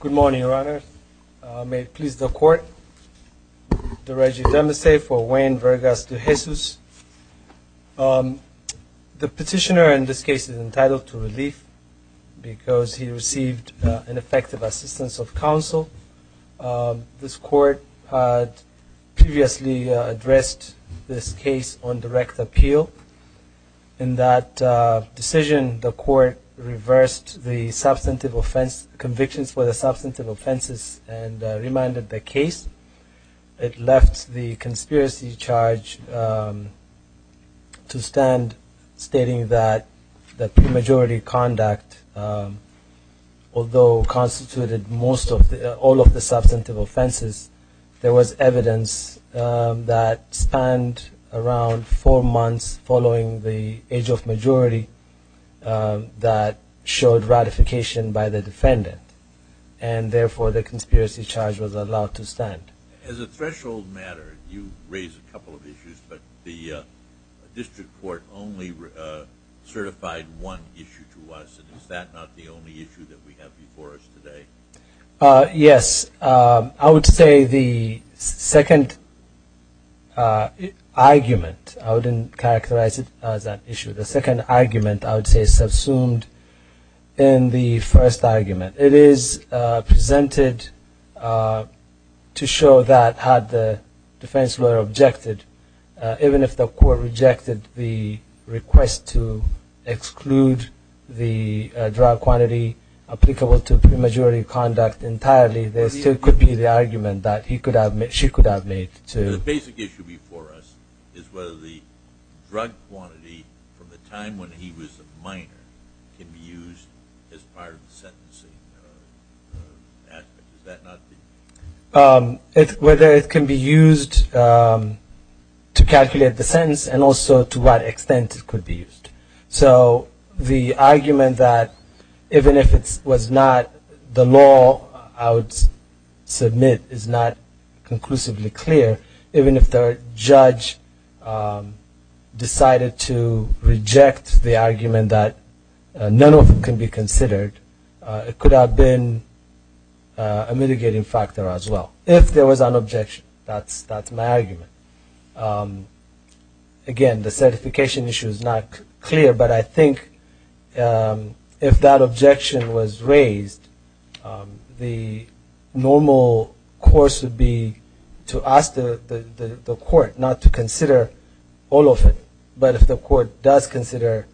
Good morning, Your Honor. May it please the Court, Derejit Dembese for Wayne Vergas-De-Jesus. The petitioner in this case is entitled to relief because he received ineffective assistance of counsel. This Court had previously addressed this case on direct appeal. In that decision, the Court reversed the convictions for the substantive offenses and remanded the case. It left the conspiracy charge to stand, stating that the majority conduct, although constituted most of the, all of the substantive offenses, there was evidence that spanned around four months following the age of majority that showed ratification by the defendant and therefore the conspiracy charge was allowed to stand. As a threshold matter, you raised a couple of issues, but the District Court only certified one issue to us. Is that not the only issue that we have before us today? Yes, I would say the second argument, I wouldn't characterize as an issue. The second argument, I would say, subsumed in the first argument. It is presented to show that had the defense lawyer objected, even if the Court rejected the request to exclude the drug quantity applicable to the majority conduct entirely, there still could be the argument that he could have made, she could have made. The basic issue before us is whether the drug quantity from the time when he was a minor can be used as part of the sentencing aspect. Is that not the? Whether it can be used to calculate the sentence and also to what extent it could be used. So the argument that even if it was not the law, I would submit is not conclusively clear. Even if the judge decided to reject the argument that none of it can be considered, it could have been a mitigating factor as well. If there was an objection, that's my argument. Again, the certification issue is not clear, but I think if that objection was raised, the normal course would be to ask the Court not to consider all of it. But if the Court does consider,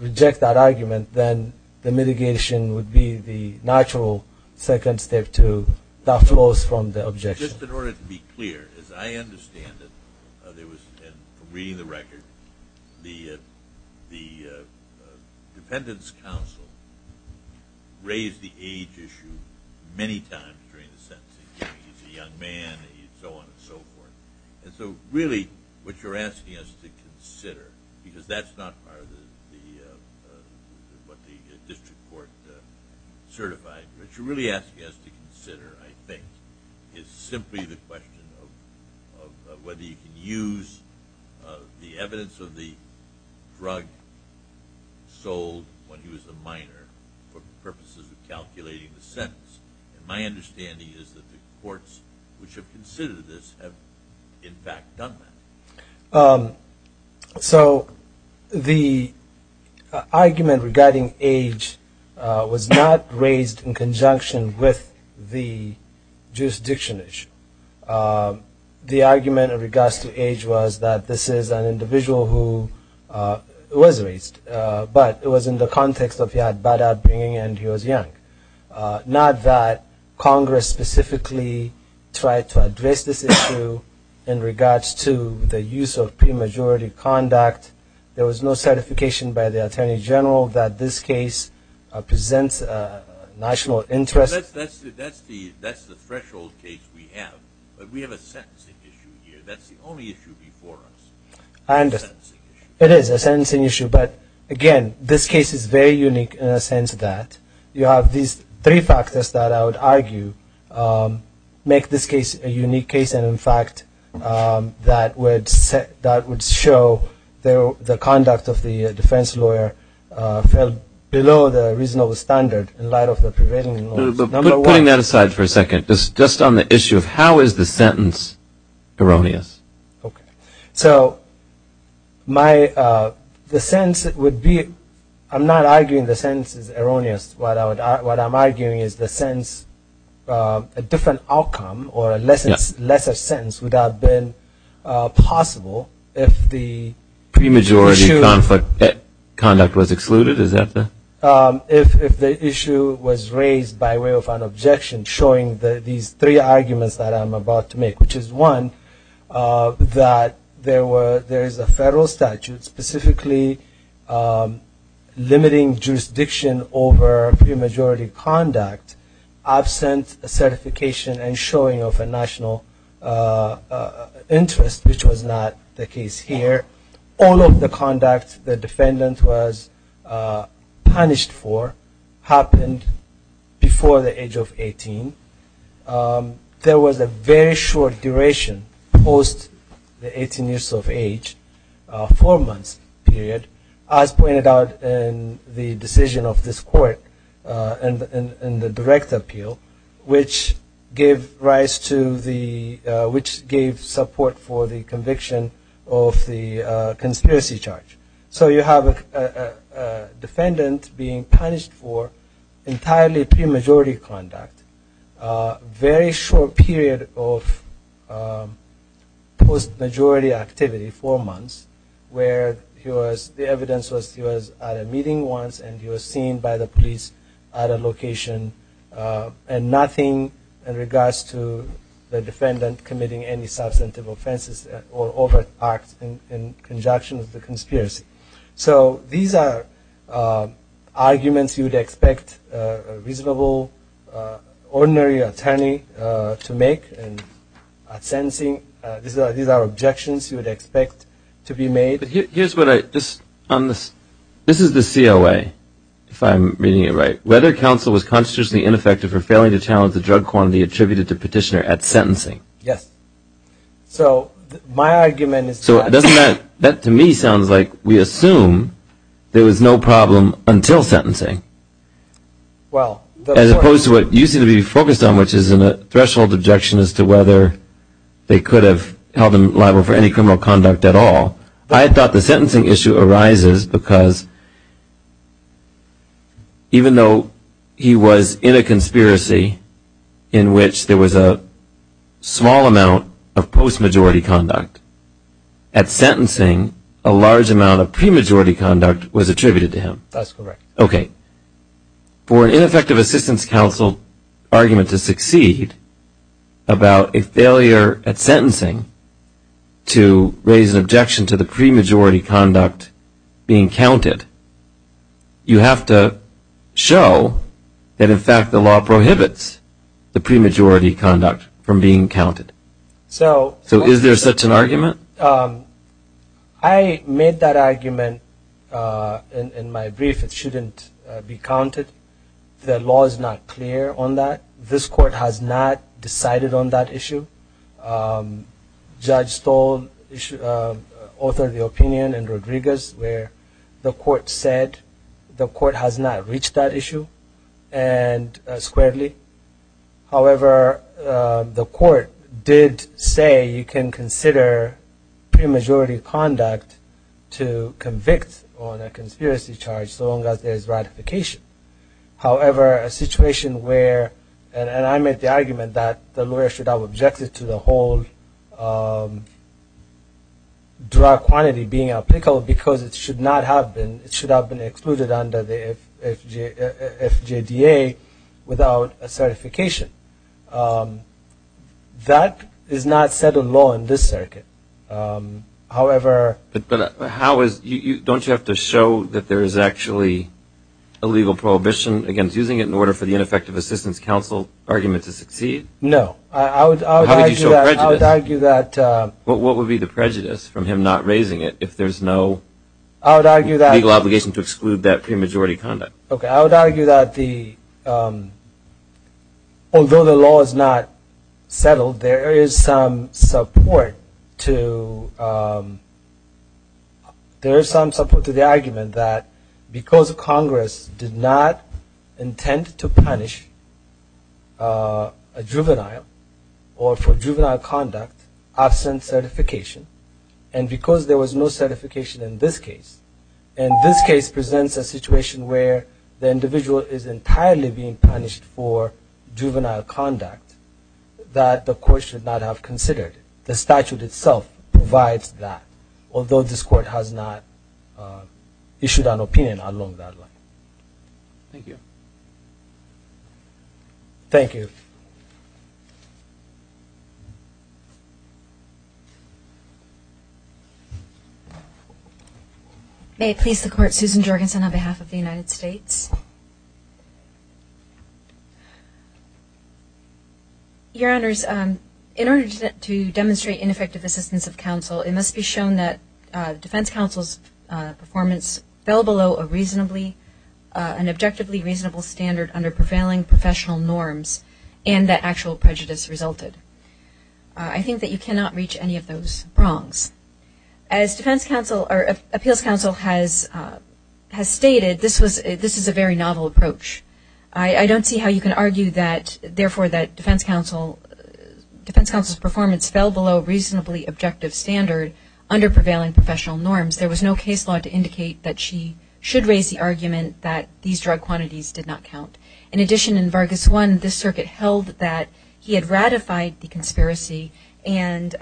reject that argument, then the mitigation would be the natural second step to that flows from the objection. Just in order to be clear, as I understand it, from reading the record, the dependents counsel raised the age issue many times during the sentencing. He's a young man, and so on and so forth. And so really what you're asking us to consider, because that's not part of what the District Court certified, what you're really the question of whether you can use the evidence of the drug sold when he was a minor for the purposes of calculating the sentence. My understanding is that the courts which have considered this have in fact done that. So the argument regarding age was not raised in this case. The argument in regards to age was that this is an individual who was raised, but it was in the context of he had a bad upbringing and he was young. Not that Congress specifically tried to address this issue in regards to the use of pre-majority conduct. There was no certification by the Attorney General that this case presents a national interest. That's the threshold case we have, but we have a sentencing issue here. That's the only issue before us. I understand. It is a sentencing issue, but again, this case is very unique in a sense that you have these three factors that I would argue make this case a unique case, and in fact that would show the conduct of the defense lawyer fell below the reasonable standard in light of the prevailing laws. Putting that aside for a second, just on the issue of how is the sentence erroneous? Okay. So the sense would be, I'm not arguing the sentence is erroneous. What I'm arguing is the sentence, a different outcome or a lesser sentence would have been possible if the raised by way of an objection showing these three arguments that I'm about to make, which is one, that there is a federal statute specifically limiting jurisdiction over pre-majority conduct absent a certification and showing of a national interest, which was not the case here. All of the before the age of 18, there was a very short duration post the 18 years of age, four months period, as pointed out in the decision of this court in the direct appeal, which gave rise to the, which gave support for the conviction of the conspiracy charge. So you have a defendant being punished for entirely pre-majority conduct, a very short period of post-majority activity, four months, where he was, the evidence was he was at a meeting once and he was seen by the police at a location and nothing in regards to the defendant committing any substantive offenses or overt acts in conjunction with the conspiracy. So these are arguments you would expect a reasonable ordinary attorney to make and at sentencing, these are objections you would expect to be made. Here's what I, this on this, this is the COA, if I'm reading it right, whether counsel was consciously ineffective for failing to challenge the drug quantity attributed to petitioner at my argument. So doesn't that, that to me sounds like we assume there was no problem until sentencing. Well, as opposed to what used to be focused on, which is in a threshold objection as to whether they could have held him liable for any criminal conduct at all. I thought the sentencing issue arises because even though he was in a conspiracy in which there was a small amount of post-majority conduct, at sentencing a large amount of pre-majority conduct was attributed to him. That's correct. Okay, for an ineffective assistance counsel argument to succeed about a failure at sentencing to raise an objection to the pre-majority conduct being counted, you have to show that in fact the law prohibits the pre-majority conduct from being counted. So is there such an argument? I made that argument in my brief. It shouldn't be counted. The law is not clear on that. This court has not decided on that issue. Judge Stoll, author of the opinion and Rodriguez where the court said the court has not reached that issue and squarely. However, the court did say you can consider pre-majority conduct to convict on a conspiracy charge so long as there's ratification. However, a situation where, and I made the argument that the lawyer should have objected to the whole drug quantity being applicable because it should not have been, it should have been excluded under the FJDA without a certification. That is not set in law in this circuit. However, don't you have to show that there is actually a legal prohibition against using it in order for the ineffective assistance counsel argument to succeed? No. How would you show prejudice? What would be the prejudice from him not raising it if there's no legal obligation to exclude that pre-majority conduct? Okay, I would argue that the, although the law is not settled, there is some support to, there is some support to the argument that because Congress did not intend to punish a juvenile or for juvenile conduct absent certification and because there was no certification in this case and this case presents a situation where the individual is entirely being punished for juvenile conduct that the court should not have considered. The statute itself provides that, although this court has not issued an opinion along that line. Thank you. Thank you. May it please the court, Susan Jorgensen on behalf of the United States. Your honors, in order to demonstrate ineffective assistance of counsel, it must be shown that defense counsel's performance fell below a reasonably, an objectively reasonable standard under prevailing professional norms and that actual prejudice resulted. I think that you or appeals counsel has stated this was, this is a very novel approach. I don't see how you can argue that therefore that defense counsel, defense counsel's performance fell below reasonably objective standard under prevailing professional norms. There was no case law to indicate that she should raise the argument that these drug quantities did not count. In addition, in Vargas 1, this circuit held that he had ratified the conspiracy and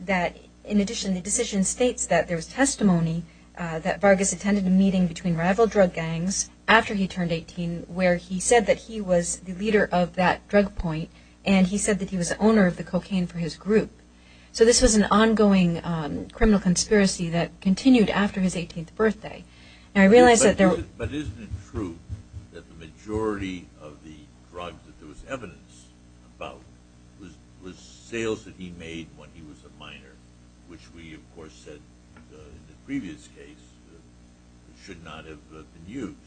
that in addition, the decision states that there was testimony that Vargas attended a meeting between rival drug gangs after he turned 18 where he said that he was the leader of that drug point and he said that he was the owner of the cocaine for his group. So this was an ongoing criminal conspiracy that continued after his 18th birthday. Now I realize that there... But isn't it true that the majority of the drugs that there was evidence about was sales that he made when he was a minor, which we of course said in the previous case should not have been used?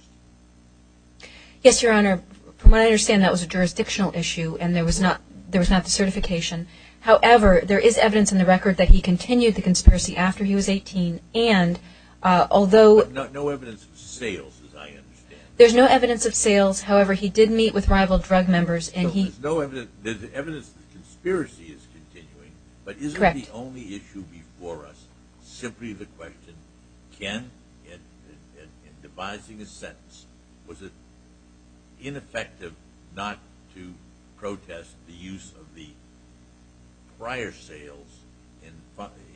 Yes, your honor. From what I understand, that was a jurisdictional issue and there was not, there was not the certification. However, there is evidence in the record that he continued the conspiracy after he was 18 and although... No evidence of sales as I understand. There's no evidence of sales. However, he did meet with rival drug members and he... There's evidence that the conspiracy is continuing, but isn't the only issue before us simply the question, can, in devising a sentence, was it ineffective not to protest the use of the prior sales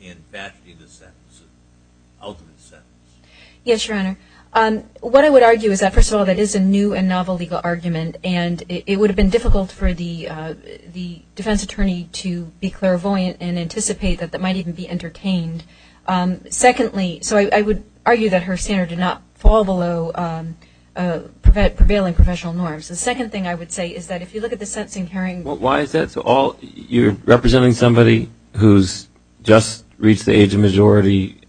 in fashioning the sentence, the ultimate sentence? Yes, your honor. What I would argue is that first of all, that is a new and novel legal argument and it would have been difficult for the defense attorney to be clairvoyant and anticipate that that might even be entertained. Secondly, so I would argue that her standard did not fall below prevailing professional norms. The second thing I would say is that if you look at the sentencing hearing... Why is that? So all, you're representing somebody who's just reached the age of majority,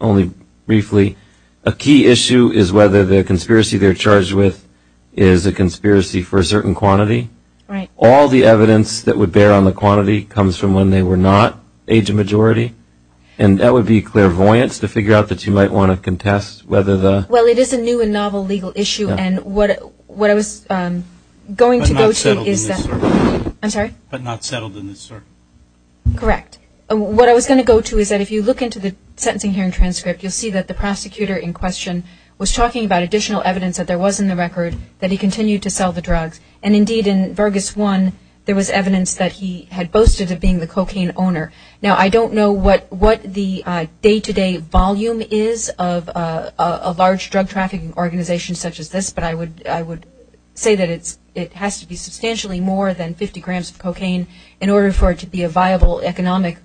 only briefly. A key issue is whether the conspiracy they're charged with is a conspiracy for a certain quantity. Right. All the evidence that would bear on the quantity comes from when they were not age of majority and that would be clairvoyance to figure out that you might want to contest whether the... Well, it is a new and novel legal issue and what I was going to go to is that... But not settled in this circuit. I'm sorry? But not settled in this circuit. Correct. What I was going to go to is that if you look into the sentencing hearing transcript, you'll see that the prosecutor in question was talking about additional evidence that there was in the record that he continued to sell the drugs and indeed in Vergas 1, there was evidence that he had boasted of being the cocaine owner. Now, I don't know what the day-to-day volume is of a large drug trafficking organization such as this, but I would say that it has to be a viable economic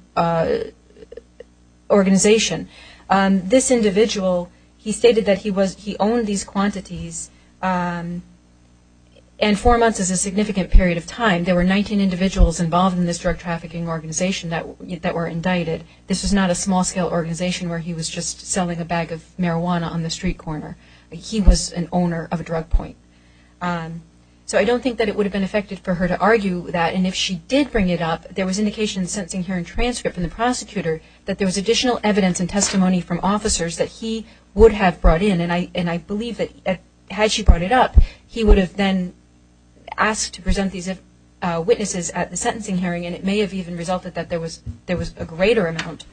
organization. This individual, he stated that he owned these quantities and four months is a significant period of time. There were 19 individuals involved in this drug trafficking organization that were indicted. This was not a small-scale organization where he was just selling a bag of marijuana on the street corner. He was an owner of a drug point. So I don't think that it would have been effective for her to argue that and if she did bring it up, there was indication in the sentencing hearing transcript from the prosecutor that there was additional evidence and testimony from officers that he would have brought in and I believe that had she brought it up, he would have then asked to present these witnesses at the sentencing hearing and it may have even resulted that there was a greater amount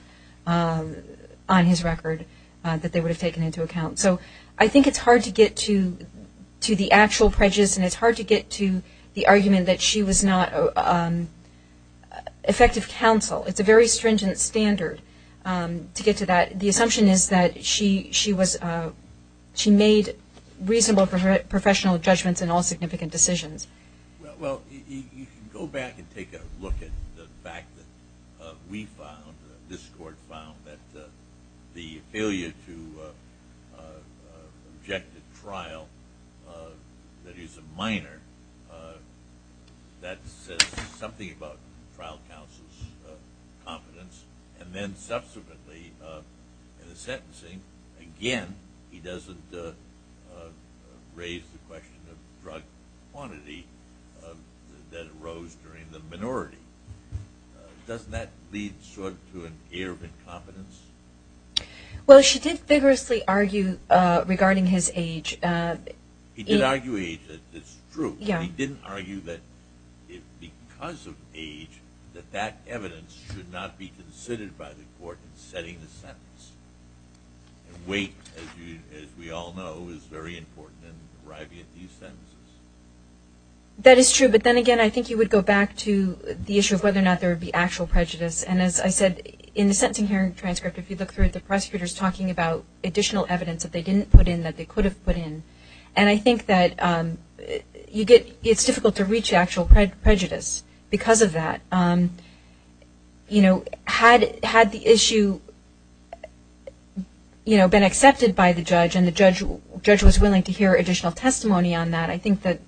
on his record that they would have taken into account. So I think it's hard to get to the actual prejudice and it's hard to get to the argument that she was not effective counsel. It's a very stringent standard to get to that. The assumption is that she made reasonable professional judgments in all significant decisions. Well, you can go back and take a look at the fact that we found, this court found, that the failure to object to trial that he's a minor, that says something about trial counsel's confidence and then subsequently in the sentencing, again, he doesn't raise the question of drug quantity that arose during the minority. Doesn't that lead to an air of incompetence? Well, she did vigorously argue regarding his age. He did argue age, it's true, but he didn't argue that because of age that that evidence should not be considered by the court in setting the sentence. And weight, as we all know, is very important in arriving at these sentences. That is true, but then again, I think you would go back to the issue of whether or not there would be actual prejudice. And as I said, in the sentencing hearing transcript, if you look through it, the prosecutor's talking about additional evidence that they didn't put in that they could have put in. And I think that you get, it's difficult to reach actual prejudice because of that. Had the issue been accepted by the judge and the judge was to hear additional testimony on that, I think that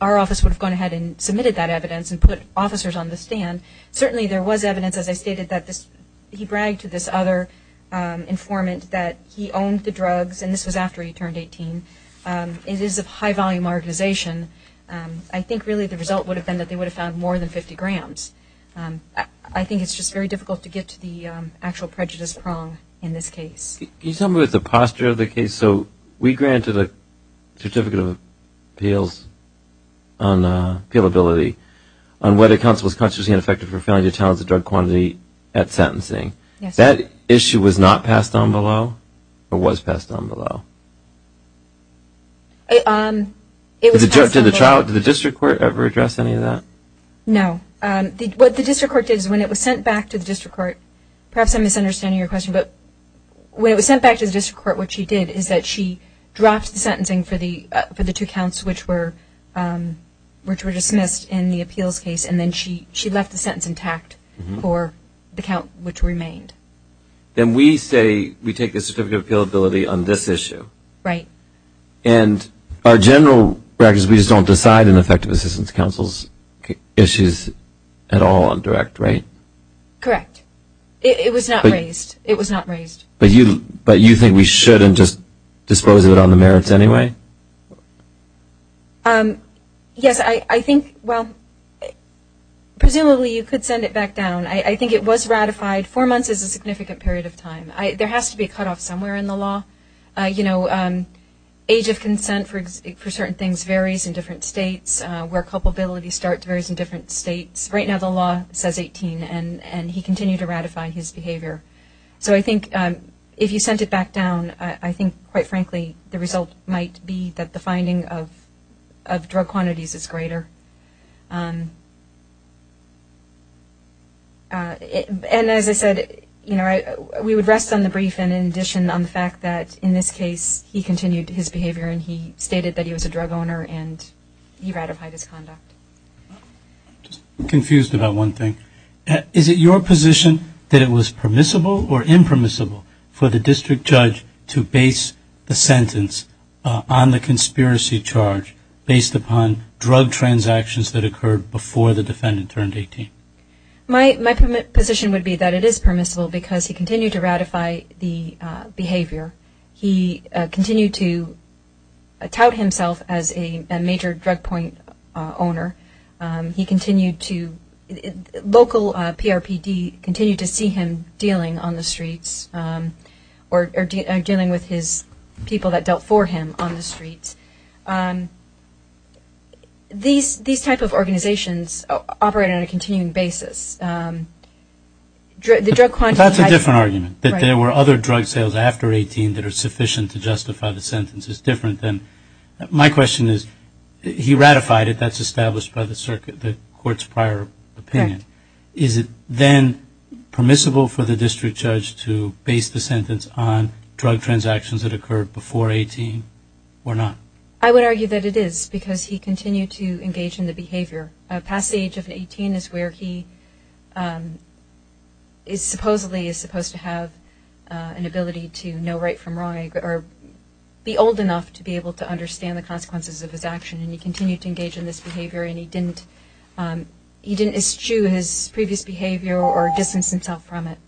our office would have gone ahead and submitted that evidence and put officers on the stand. Certainly there was evidence, as I stated, that he bragged to this other informant that he owned the drugs, and this was after he turned 18. It is a high volume organization. I think really the result would have been that they would have found more than 50 grams. I think it's just very difficult to get to the actual prejudice prong in this case. Can you tell me about the posture of the case? So we granted a certificate of appeals on appealability on whether counsel was consciously ineffective for failing to challenge the drug quantity at sentencing. Yes. That issue was not passed down below or was passed down below? It was passed down below. Did the district court ever address any of that? No. What the district court did is when it was sent back to the district court, perhaps I'm misunderstanding your question, but when it was sent back to the district court what she did is that she dropped the sentencing for the two counts which were dismissed in the appeals case and then she left the sentence intact for the count which remained. Then we say we take the certificate of appealability on this issue. Right. And our general practice is we just don't decide effective assistance counsel's issues at all on direct, right? Correct. It was not raised. It was not raised. But you think we shouldn't just dispose of it on the merits anyway? Yes. I think, well, presumably you could send it back down. I think it was ratified. Four months is a significant period of time. There has to be a cutoff somewhere in the law. You know, age of consent for certain things varies in different states. Where culpability starts varies in different states. Right now the law says 18 and he continued to ratify his behavior. So I think if you sent it back down, I think quite frankly the result might be that the finding of drug quantities is greater. And as I said, you know, we would rest on the brief and in addition on the case he continued his behavior and he stated that he was a drug owner and he ratified his conduct. Just confused about one thing. Is it your position that it was permissible or impermissible for the district judge to base the sentence on the conspiracy charge based upon drug transactions that occurred before the defendant turned 18? My position would be that it is permissible because he continued to ratify the behavior. He continued to tout himself as a major drug point owner. He continued to, local PRPD continued to see him dealing on the streets or dealing with his people that dealt for him on the streets. These type of organizations operate on a continuing basis. That's a different argument that there were other drug sales after 18 that are sufficient to justify the sentence is different than my question is he ratified it that's established by the circuit, the court's prior opinion. Is it then permissible for the district judge to base the sentence on drug transactions that occurred before 18 or not? I would argue that it is because he continued to um is supposedly is supposed to have an ability to know right from wrong or be old enough to be able to understand the consequences of his action and he continued to engage in this behavior and he didn't um he didn't eschew his previous behavior or distance himself from it.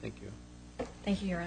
Thank you. Thank you your honors.